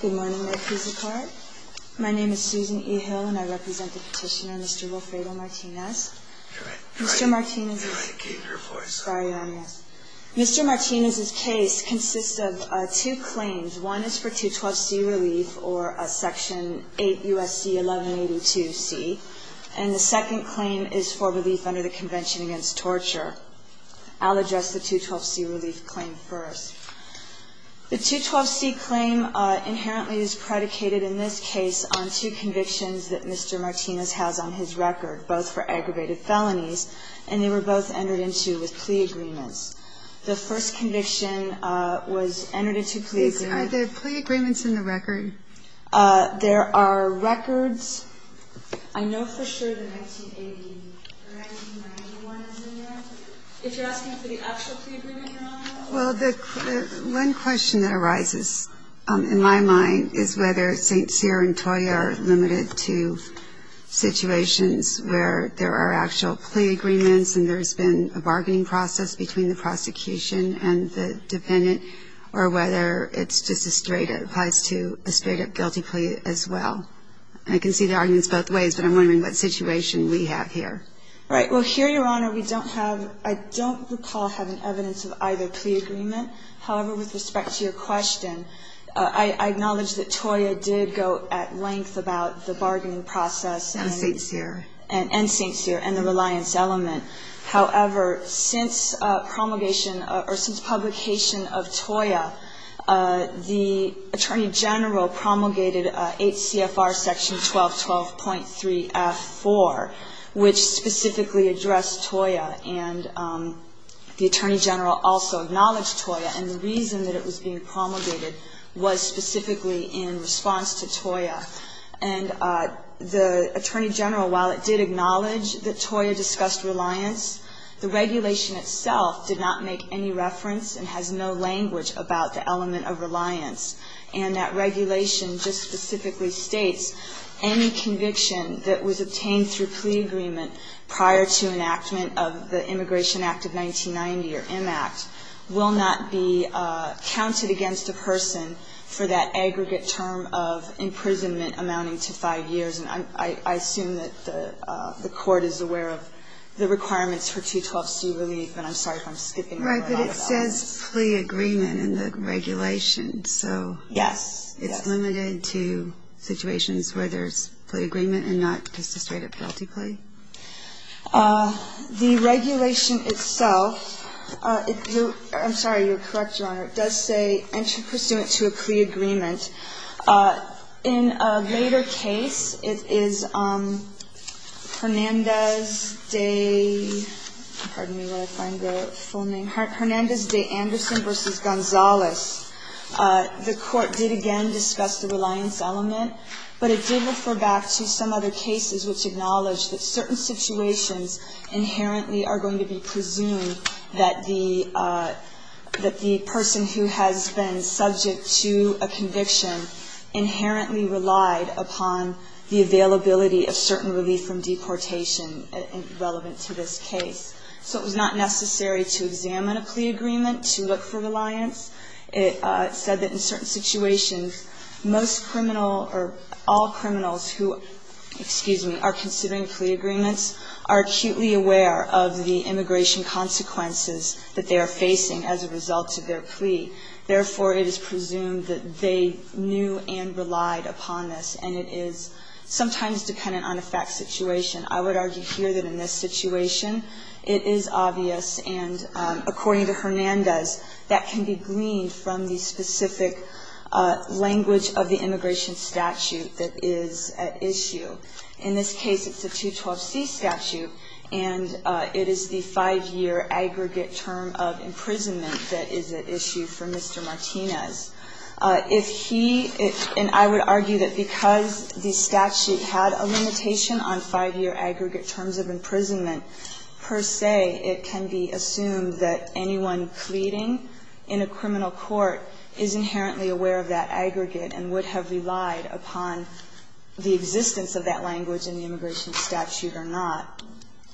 Good morning. My name is Susan E. Hill and I represent the petitioner, Mr. Rolfredo Martinez. Mr. Martinez's case consists of two claims. One is for 212C relief or Section 8 USC 1182C. And the second claim is for relief under the Convention Against Torture. I'll address the 212C relief claim first. The 212C claim inherently is predicated in this case on two convictions that Mr. Martinez has on his record, both for aggravated felonies, and they were both entered into with plea agreements. The first conviction was entered into plea agreements. Are there plea agreements in the record? There are records. I know for sure the 1980 or 1991 is in the record. If you're asking for the actual plea agreement, Your Honor? Well, one question that arises in my mind is whether St. Cyr and Toya are limited to situations where there are actual plea agreements and there's been a bargaining process between the prosecution and the defendant, or whether it's just a straight-up, applies to a straight-up guilty plea as well. I can see the arguments both ways, but I'm wondering what situation we have here. Right. Well, here, Your Honor, we don't have, I don't recall having evidence of either plea agreement. However, with respect to your question, I acknowledge that Toya did go at length about the bargaining process. And St. Cyr. And St. Cyr and the reliance element. However, since promulgation or since publication of Toya, the Attorney General promulgated 8 CFR section 1212.3F4, which specifically addressed Toya. And the Attorney General also acknowledged Toya, and the reason that it was being promulgated was specifically in response to Toya. And the Attorney General, while it did acknowledge that Toya discussed reliance, the regulation itself did not make any reference and has no language about the element of reliance. And that regulation just specifically states any conviction that was obtained through plea agreement prior to enactment of the Immigration Act of 1990, or M Act, will not be counted against a person for that aggregate term of imprisonment amounting to five years. And I assume that the Court is aware of the requirements for 212C relief, and I'm sorry if I'm skipping that. Right. But it says plea agreement in the regulation. Yes. So it's limited to situations where there's plea agreement and not just a straight-up penalty plea? The regulation itself, I'm sorry. You're correct, Your Honor. It does say entry pursuant to a plea agreement. In a later case, it is Hernandez de — pardon me while I find the full name — Hernandez de Anderson v. Gonzales. The Court did again discuss the reliance element, but it did refer back to some other cases which acknowledge that certain situations inherently are going to be presumed that the person who has been subject to a conviction inherently relied upon the availability of certain relief from deportation relevant to this case. So it was not necessary to examine a plea agreement to look for reliance. It said that in certain situations, most criminal or all criminals who, excuse me, are considering plea agreements are acutely aware of the immigration consequences that they are facing as a result of their plea. Therefore, it is presumed that they knew and relied upon this, and it is sometimes dependent on a fact situation. I would argue here that in this situation, it is obvious, and according to Hernandez, that can be gleaned from the specific language of the immigration statute that is at issue. In this case, it's a 212c statute, and it is the 5-year aggregate term of imprisonment that is at issue for Mr. Martinez. If he — and I would argue that because the statute had a limitation on 5-year aggregate, it would have relied upon the existence of that language in the immigration statute or not.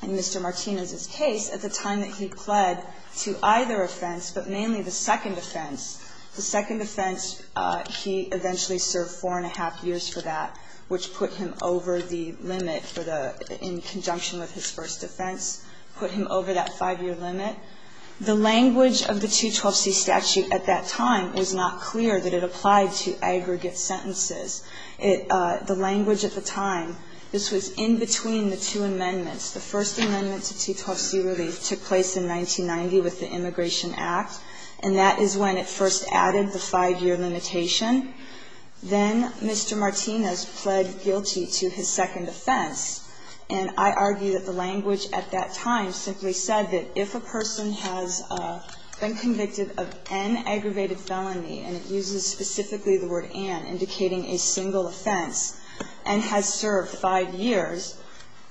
In Mr. Martinez's case, at the time that he pled to either offense, but mainly the second offense, the second offense, he eventually served four and a half years for that, which put him over the limit for the — in conjunction with his first offense, put him over that 5-year limit. The language of the 212c statute at that time was not clear that it applied to aggregate sentences. The language at the time, this was in between the two amendments. The first amendment to 212c relief took place in 1990 with the Immigration Act, and that is when it first added the 5-year limitation. Then Mr. Martinez pled guilty to his second offense, and I argue that the language at that time simply said that if a person has been convicted of an aggravated felony, and it uses specifically the word an, indicating a single offense, and has served 5 years,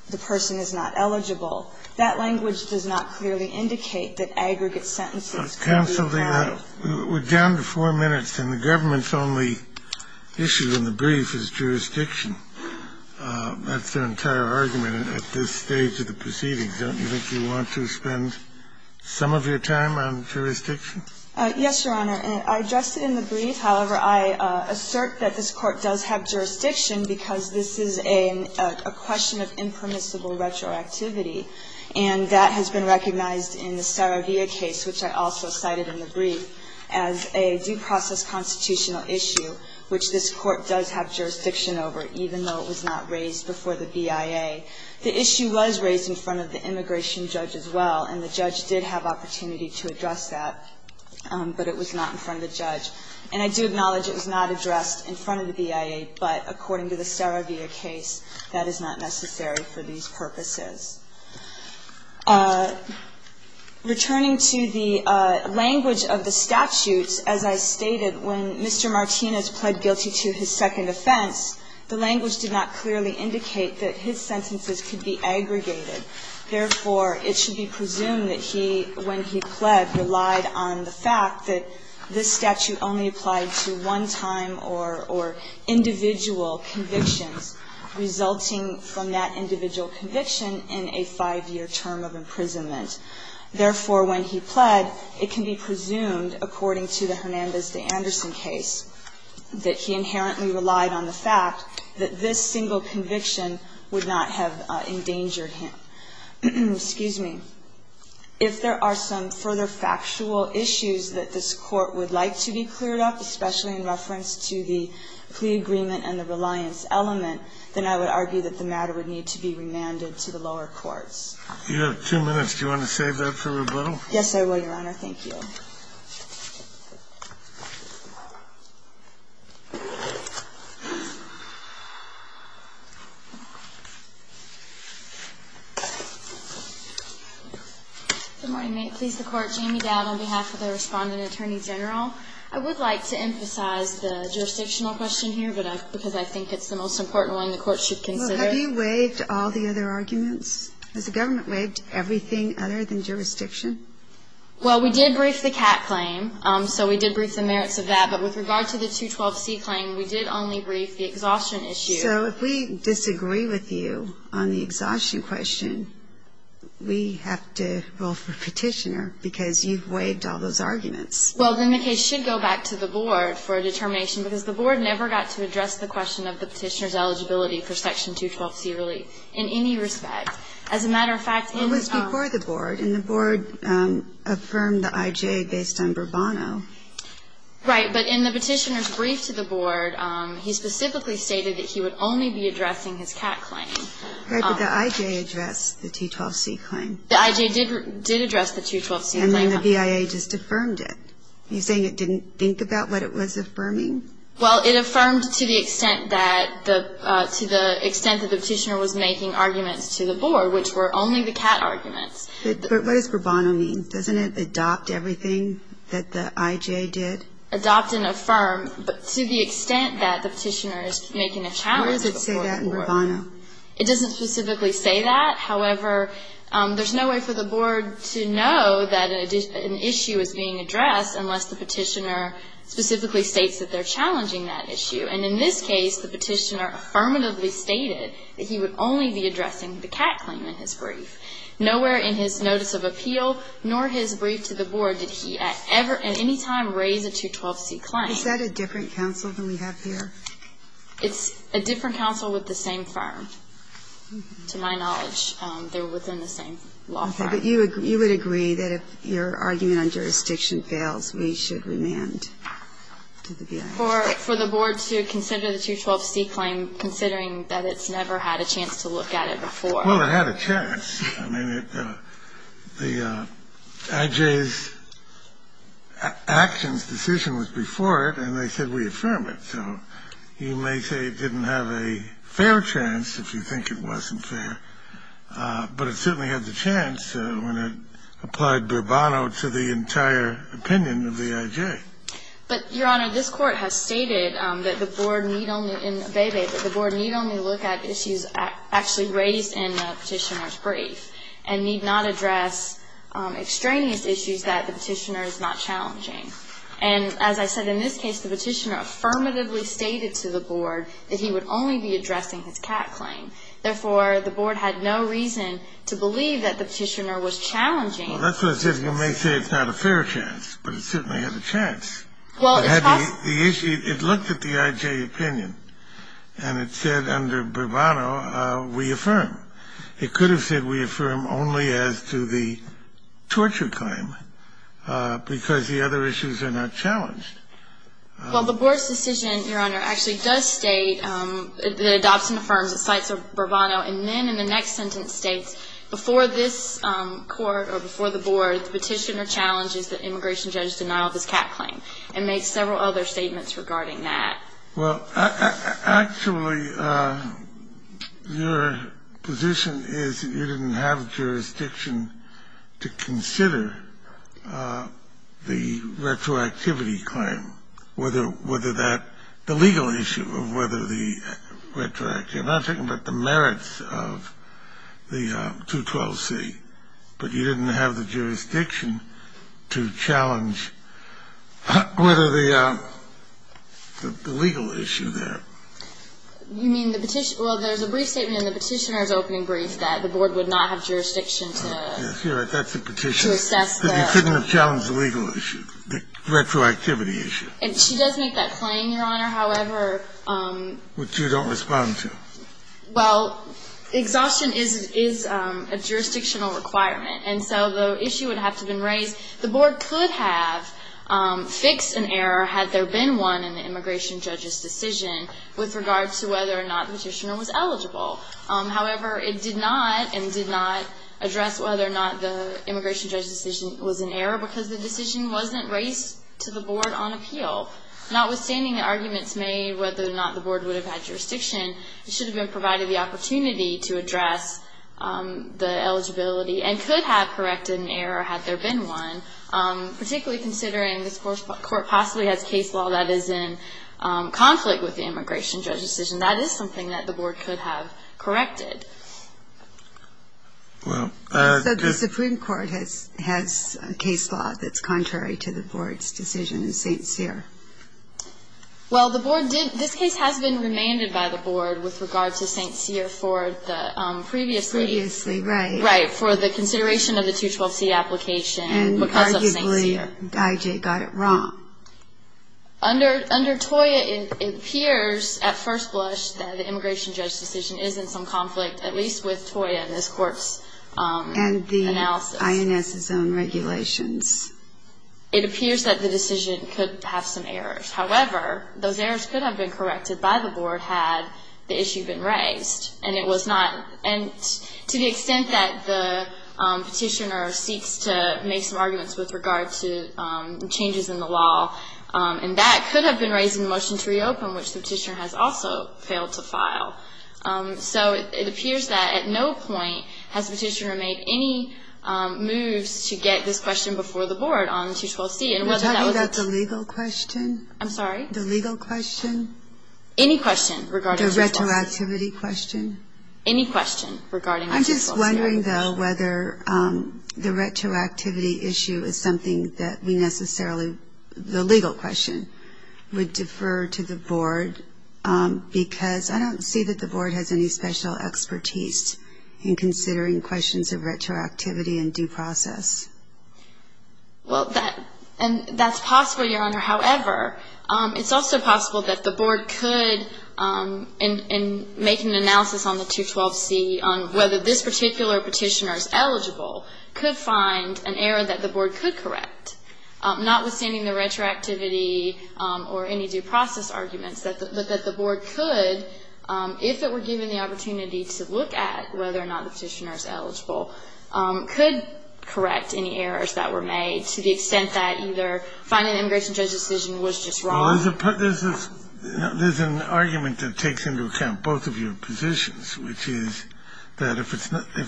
the person is not eligible, that language does not clearly indicate that aggregate sentences can be applied. We're down to 4 minutes, and the government's only issue in the brief is jurisdiction. That's their entire argument at this stage of the proceedings. Don't you think you want to spend some of your time on jurisdiction? Yes, Your Honor. I addressed it in the brief. However, I assert that this Court does have jurisdiction, because this is a question of impermissible retroactivity, and that has been recognized in the Saravia case, which I also cited in the brief, as a due process constitutional issue, which this was not raised before the BIA. The issue was raised in front of the immigration judge as well, and the judge did have opportunity to address that, but it was not in front of the judge. And I do acknowledge it was not addressed in front of the BIA, but according to the Saravia case, that is not necessary for these purposes. Returning to the language of the statutes, as I stated, when Mr. Martinez pled guilty to his second offense, the language did not clearly indicate that his sentences could be aggregated. Therefore, it should be presumed that he, when he pled, relied on the fact that this statute only applied to one-time or individual convictions, resulting from that individual conviction in a five-year term of imprisonment. Therefore, when he pled, it can be presumed, according to the Hernandez v. Anderson case, that he inherently relied on the fact that this single conviction would not have endangered him. Excuse me. If there are some further factual issues that this Court would like to be cleared of, especially in reference to the plea agreement and the reliance element, then I would argue that the matter would need to be remanded to the lower courts. You have two minutes. Do you want to save that for rebuttal? Yes, I will, Your Honor. Thank you. Good morning. May it please the Court, Jamie Dowd on behalf of the Respondent Attorney General. I would like to emphasize the jurisdictional question here, because I think it's the most important one the Court should consider. Well, have you waived all the other arguments? Has the government waived everything other than jurisdiction? Well, we did brief the CAT claim, so we did brief the merits of that. But with regard to the 212C claim, we did only brief the exhaustion issue. So if we disagree with you on the exhaustion question, we have to roll for Petitioner, because you've waived all those arguments. Well, then the case should go back to the Board for a determination, because the Board never got to address the question of the Petitioner's eligibility for Section 212C relief in any respect. As a matter of fact, in the – It was before the Board, and the Board affirmed the IJ based on Bravano. Right, but in the Petitioner's brief to the Board, he specifically stated that he would only be addressing his CAT claim. Right, but the IJ addressed the 212C claim. The IJ did address the 212C claim. And then the BIA just affirmed it. Are you saying it didn't think about what it was affirming? Well, it affirmed to the extent that the – to the extent that the Petitioner was making arguments to the Board, which were only the CAT arguments. But what does Bravano mean? Doesn't it adopt everything that the IJ did? Adopt and affirm, but to the extent that the Petitioner is making a challenge to the Board. Where does it say that in Bravano? It doesn't specifically say that. However, there's no way for the Board to know that an issue is being addressed unless the Petitioner specifically states that they're challenging that issue. And in this case, the Petitioner affirmatively stated that he would only be addressing the CAT claim in his brief. Nowhere in his Notice of Appeal, nor his brief to the Board, did he at any time raise a 212C claim. Is that a different counsel than we have here? It's a different counsel with the same firm. To my knowledge, they're within the same law firm. Okay, but you would agree that if your argument on jurisdiction fails, we should remand to the BIA. For the Board to consider the 212C claim, considering that it's never had a chance to look at it before. Well, it had a chance. I mean, the IJ's actions decision was before it, and they said we affirm it. So you may say it didn't have a fair chance, if you think it wasn't fair. But it certainly had the chance when it applied Bravano to the entire opinion of the IJ. But, Your Honor, this Court has stated that the Board need only look at issues actually raised in the Petitioner's brief and need not address extraneous issues that the Petitioner is not challenging. And as I said, in this case, the Petitioner affirmatively stated to the Board that he would only be addressing his CAT claim. Therefore, the Board had no reason to believe that the Petitioner was challenging. Well, that's what I said. You may say it's not a fair chance, but it certainly had a chance. It looked at the IJ opinion, and it said under Bravano, we affirm. It could have said we affirm only as to the torture claim because the other issues are not challenged. Well, the Board's decision, Your Honor, actually does state, it adopts and affirms, it cites Bravano, and then in the next sentence states, before this Court or before the Board, the Petitioner challenges the immigration judge's denial of his CAT claim and makes several other statements regarding that. Well, actually, your position is you didn't have jurisdiction to consider the retroactivity claim, whether that, the legal issue of whether the retroactivity, I'm not talking about the merits of the 212C, but you didn't have the jurisdiction to challenge whether the legal issue there. You mean the Petitioner? Well, there's a brief statement in the Petitioner's opening brief that the Board would not have jurisdiction to assess that. That's the Petitioner. He couldn't have challenged the legal issue, the retroactivity issue. And she does make that claim, Your Honor, however... Which you don't respond to? Well, exhaustion is a jurisdictional requirement, and so the issue would have to have been raised. The Board could have fixed an error, had there been one, in the immigration judge's decision, with regard to whether or not the Petitioner was eligible. However, it did not, and did not address whether or not the immigration judge's decision was an error because the decision wasn't raised to the Board on appeal. Notwithstanding the arguments made whether or not the Board would have had jurisdiction, it should have been provided the opportunity to address the eligibility, and could have corrected an error, had there been one, particularly considering this Court possibly has case law that is in conflict with the immigration judge's decision. That is something that the Board could have corrected. So the Supreme Court has case law that's contrary to the Board's decision in St. Cyr? Well, the Board did... This case has been remanded by the Board with regard to St. Cyr for the previously... Previously, right. Right, for the consideration of the 212C application because of St. Cyr. And arguably, Guy J. got it wrong. Under TOIA, it appears, at first blush, that the immigration judge's decision is in some conflict, at least with TOIA and this Court's analysis. What about INS's own regulations? It appears that the decision could have some errors. However, those errors could have been corrected by the Board had the issue been raised. And it was not... And to the extent that the petitioner seeks to make some arguments with regard to changes in the law, and that could have been raising the motion to reopen, which the petitioner has also failed to file. So it appears that at no point has the petitioner made any moves to get this question before the Board on 212C. And whether that was... Are you talking about the legal question? I'm sorry? The legal question? Any question regarding 212C. The retroactivity question? Any question regarding 212C. I'm just wondering, though, whether the retroactivity issue is something that we necessarily... The legal question would defer to the Board because I don't see that the Board has any special expertise in considering questions of retroactivity and due process. Well, that's possible, Your Honor. However, it's also possible that the Board could, in making an analysis on the 212C, on whether this particular petitioner is eligible, could find an error that the Board could correct, notwithstanding the retroactivity or any due process arguments, but that the Board could, if it were given the opportunity to look at whether or not the petitioner is eligible, could correct any errors that were made to the extent that either finding the immigration judge's decision was just wrong... Well, there's an argument that takes into account both of your positions, which is that if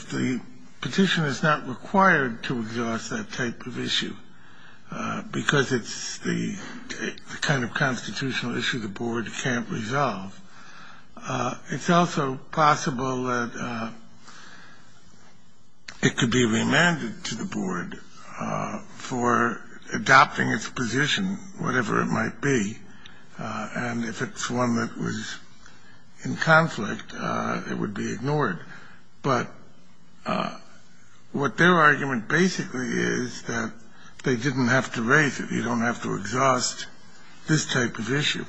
the petitioner's not required to exhaust that type of issue because it's the kind of constitutional issue the Board can't resolve, it's also possible that it could be remanded to the Board for adopting its position, whatever it might be. And if it's one that was in conflict, it would be ignored. But what their argument basically is that they didn't have to raise it. You don't have to exhaust this type of issue,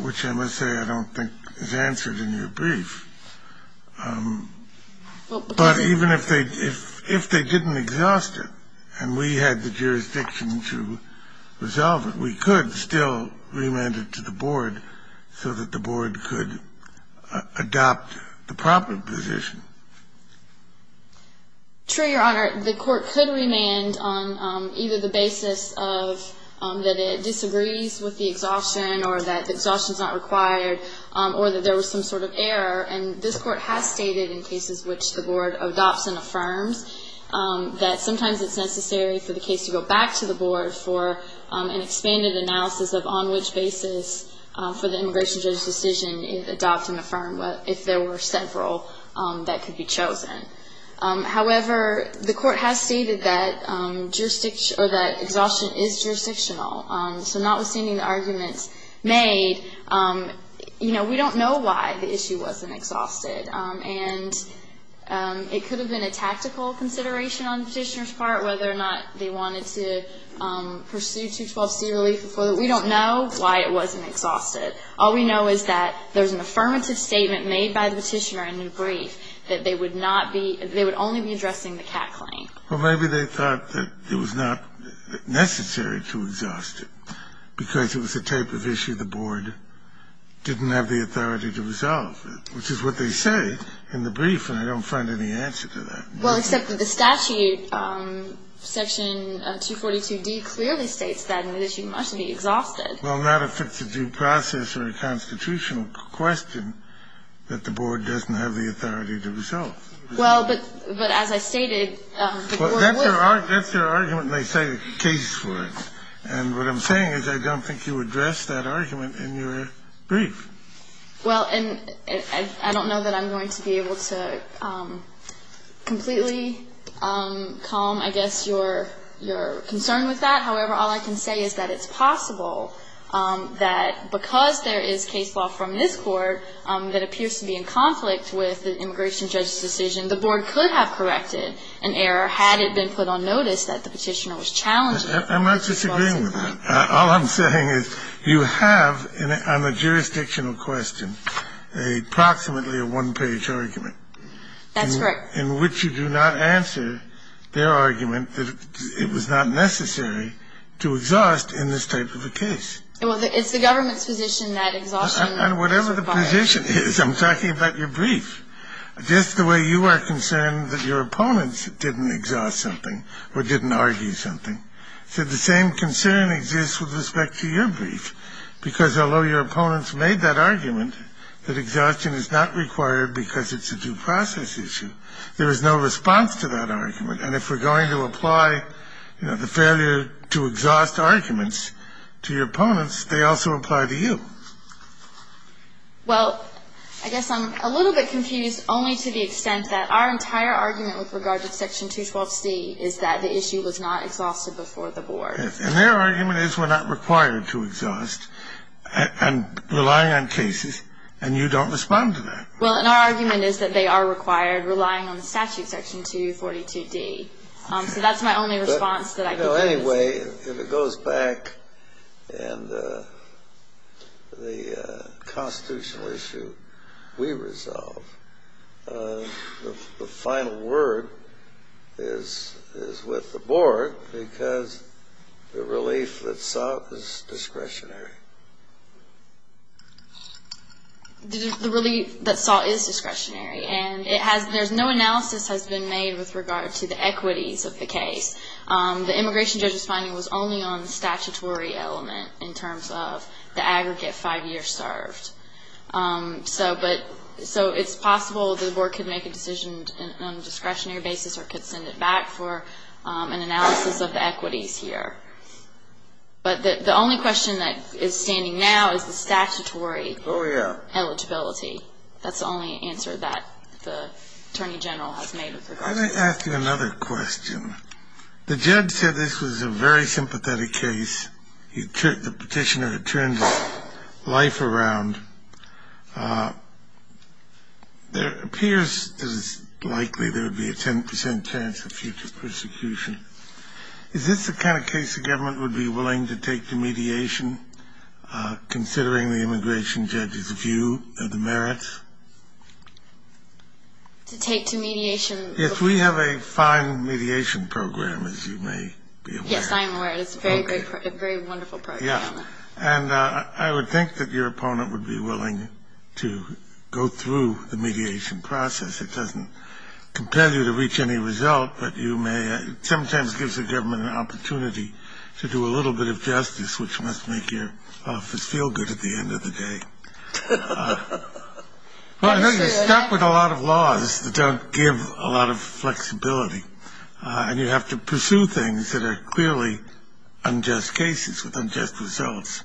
which I must say I don't think is answered in your brief. But even if they didn't exhaust it and we had the jurisdiction to resolve it, we could still remand it to the Board so that the Board could adopt the proper position. True, Your Honor. The Court could remand on either the basis that it disagrees with the exhaustion or that the exhaustion's not required or that there was some sort of error. And this Court has stated in cases which the Board adopts and affirms that sometimes it's necessary for the case to go back to the Board for an expanded analysis of on which basis for the immigration judge's decision it would adopt and affirm, if there were several that could be chosen. However, the Court has stated that exhaustion is jurisdictional. So notwithstanding the arguments made, we don't know why the issue wasn't exhausted. And it could have been a tactical consideration on the Petitioner's part, whether or not they wanted to pursue 212c relief. We don't know why it wasn't exhausted. All we know is that there's an affirmative statement made by the Petitioner in your brief that they would only be addressing the Catt claim. Well, maybe they thought that it was not necessary to exhaust it because it was a type of issue the Board didn't have the authority to resolve, which is what they say in the brief, and I don't find any answer to that. Well, except that the statute, Section 242d, clearly states that an issue must be exhausted. Well, not if it's a due process or a constitutional question that the Board doesn't have the authority to resolve. Well, but as I stated, the Board would. That's their argument, and they cite a case for it. And what I'm saying is I don't think you addressed that argument in your brief. Well, and I don't know that I'm going to be able to completely calm, I guess, your concern with that. However, all I can say is that it's possible that because there is case law from this Court, that appears to be in conflict with the immigration judge's decision, the Board could have corrected an error had it been put on notice that the petitioner was challenging it. I'm not disagreeing with that. All I'm saying is you have, on the jurisdictional question, approximately a one-page argument. That's correct. In which you do not answer their argument that it was not necessary to exhaust in this type of a case. Well, it's the government's position that exhaustion... And whatever the position is, I'm talking about your brief. Just the way you are concerned that your opponents didn't exhaust something or didn't argue something. So the same concern exists with respect to your brief. Because although your opponents made that argument, that exhaustion is not required because it's a due process issue. There is no response to that argument. And if we're going to apply, you know, the failure to exhaust arguments to your opponents, they also apply to you. Well, I guess I'm a little bit confused only to the extent that our entire argument with regard to Section 212C is that the issue was not exhausted before the Board. And their argument is we're not required to exhaust and relying on cases, and you don't respond to that. Well, and our argument is that they are required relying on the statute, Section 242D. So that's my only response that I can give. You know, anyway, if it goes back and the constitutional issue we resolve, the final word is with the Board because the relief that sought was discretionary. The relief that sought is discretionary. And there's no analysis has been made with regard to the equities of the case. The immigration judge's finding was only on the statutory element in terms of the aggregate five years served. So it's possible the Board could make a decision on a discretionary basis or could send it back for an analysis of the equities here. But the only question that is standing now is the statutory eligibility. That's the only answer that the Attorney General has made with regard to that. Why don't I ask you another question? The judge said this was a very sympathetic case. The petitioner had turned life around. It appears that it's likely there would be a 10% chance of future persecution. Is this the kind of case the government would be willing to take to mediation considering the immigration judge's view of the merits? To take to mediation? If we have a fine mediation program, as you may be aware. Yes, I am aware. It's a very great, very wonderful program. Yeah. And I would think that your opponent would be willing to go through the mediation process. It doesn't compel you to reach any result, but you may. It sometimes gives the government an opportunity to do a little bit of justice, which must make your office feel good at the end of the day. Well, I know you're stuck with a lot of laws that don't give a lot of flexibility, and you have to pursue things that are clearly unjust cases with unjust results,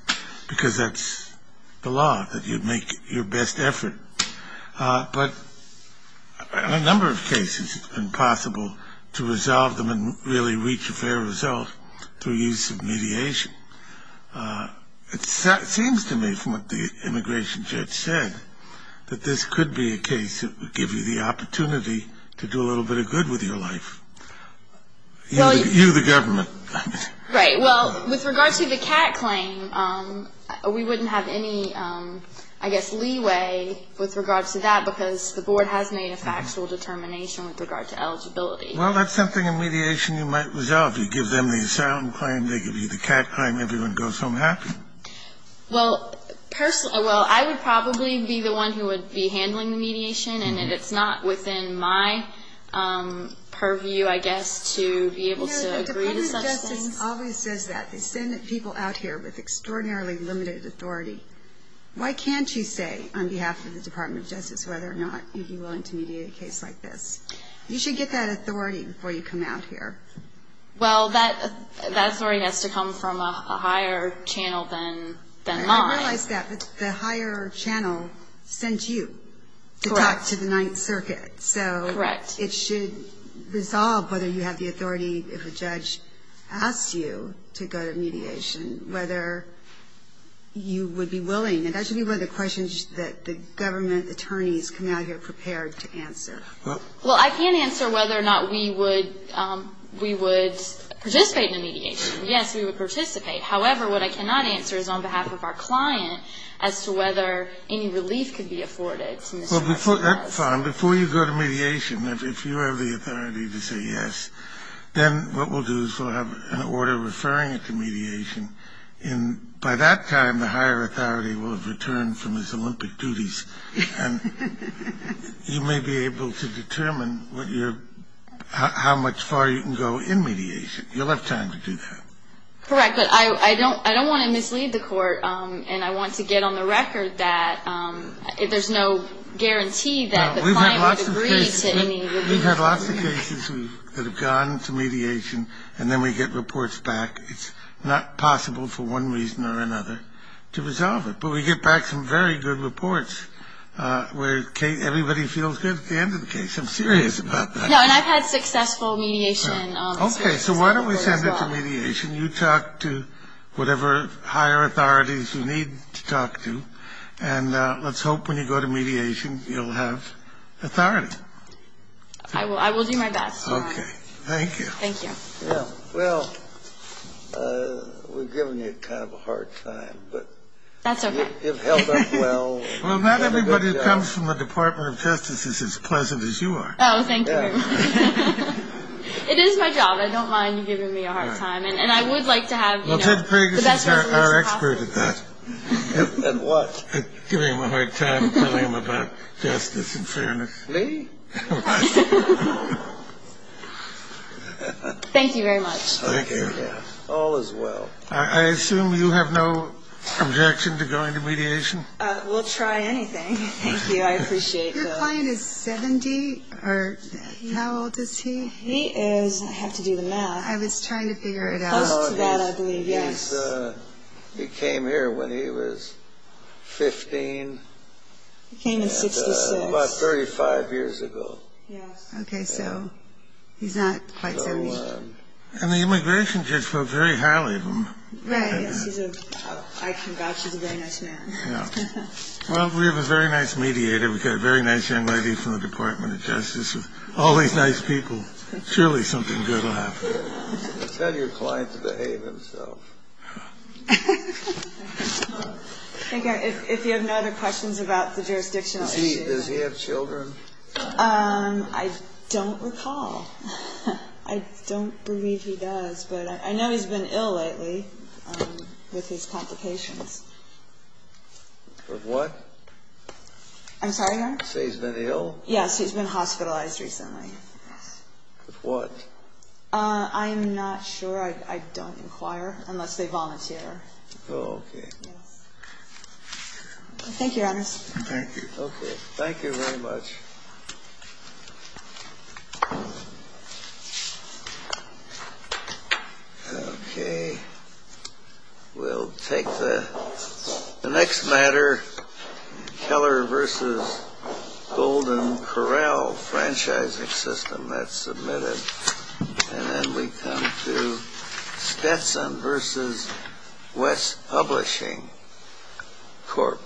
because that's the law, that you make your best effort. But in a number of cases, it's been possible to resolve them and really reach a fair result through use of mediation. It seems to me, from what the immigration judge said, that this could be a case that would give you the opportunity to do a little bit of good with your life. You, the government. Right. Well, with regard to the cat claim, we wouldn't have any, I guess, leeway with regard to that, because the board has made a factual determination with regard to eligibility. Well, that's something in mediation you might resolve. You give them the asylum claim, they give you the cat claim, everyone goes home happy? Well, I would probably be the one who would be handling the mediation, and it's not within my purview, I guess, to be able to agree to such things. The Department of Justice always says that. They send people out here with extraordinarily limited authority. Why can't you say, on behalf of the Department of Justice, whether or not you'd be willing to mediate a case like this? You should get that authority before you come out here. Well, that authority has to come from a higher channel than mine. I realize that, but the higher channel sent you to talk to the Ninth Circuit. Correct. So it should resolve whether you have the authority, if a judge asks you to go to mediation, whether you would be willing. And that should be one of the questions that the government attorneys come out here prepared to answer. Well, I can't answer whether or not we would participate in a mediation. Yes, we would participate. However, what I cannot answer is on behalf of our client as to whether any relief could be afforded. Before you go to mediation, if you have the authority to say yes, then what we'll do is we'll have an order referring you to mediation. By that time, the higher authority will have returned from his Olympic duties, and you may be able to determine how much far you can go in mediation. You'll have time to do that. Correct, but I don't want to mislead the court, and I want to get on the record that there's no guarantee that the client would agree to any relief. We've had lots of cases that have gone to mediation, and then we get reports back. It's not possible, for one reason or another, to resolve it. But we get back some very good reports where everybody feels good at the end of the case. I'm serious about that. No, and I've had successful mediation. Okay, so why don't we send it to mediation. You talk to whatever higher authorities you need to talk to, and let's hope when you go to mediation, you'll have authority. I will do my best, Your Honor. Okay, thank you. Thank you. Well, we've given you kind of a hard time. That's okay. You've held up well. Well, not everybody that comes from the Department of Justice is as pleasant as you are. Oh, thank you. It is my job. I don't mind you giving me a hard time. And I would like to have, you know, the best resolution possible. Well, Ted Pergas is our expert at that. At what? At giving him a hard time and telling him about justice and fairness. Me? Thank you very much. Thank you. All is well. I assume you have no objection to going to mediation? We'll try anything. Thank you. I appreciate that. Your client is 70? Or how old is he? He is, I have to do the math. I was trying to figure it out. Close to that, I believe. Yes. He came here when he was 15. He came in 66. About 35 years ago. Yes. Okay, so he's not quite 70. And the immigration judge was very highly of him. Right. I can vouch he's a very nice man. Yeah. Well, we have a very nice mediator. We've got a very nice young lady from the Department of Justice. All these nice people. Surely something good will happen. Tell your client to behave himself. Thank you. If you have no other questions about the jurisdictional issues. Does he have children? I don't recall. I don't believe he does. But I know he's been ill lately with his complications. With what? I'm sorry, Your Honor? Say he's been ill? Yes, he's been hospitalized recently. With what? I'm not sure. I don't inquire. Unless they volunteer. Oh, okay. Yes. Thank you, Your Honor. Thank you. Okay. Thank you very much. Okay. We'll take the next matter. Keller v. Golden Corral. Franchising system. That's submitted. And then we come to Stetson v. West Publishing Corp. Thank you.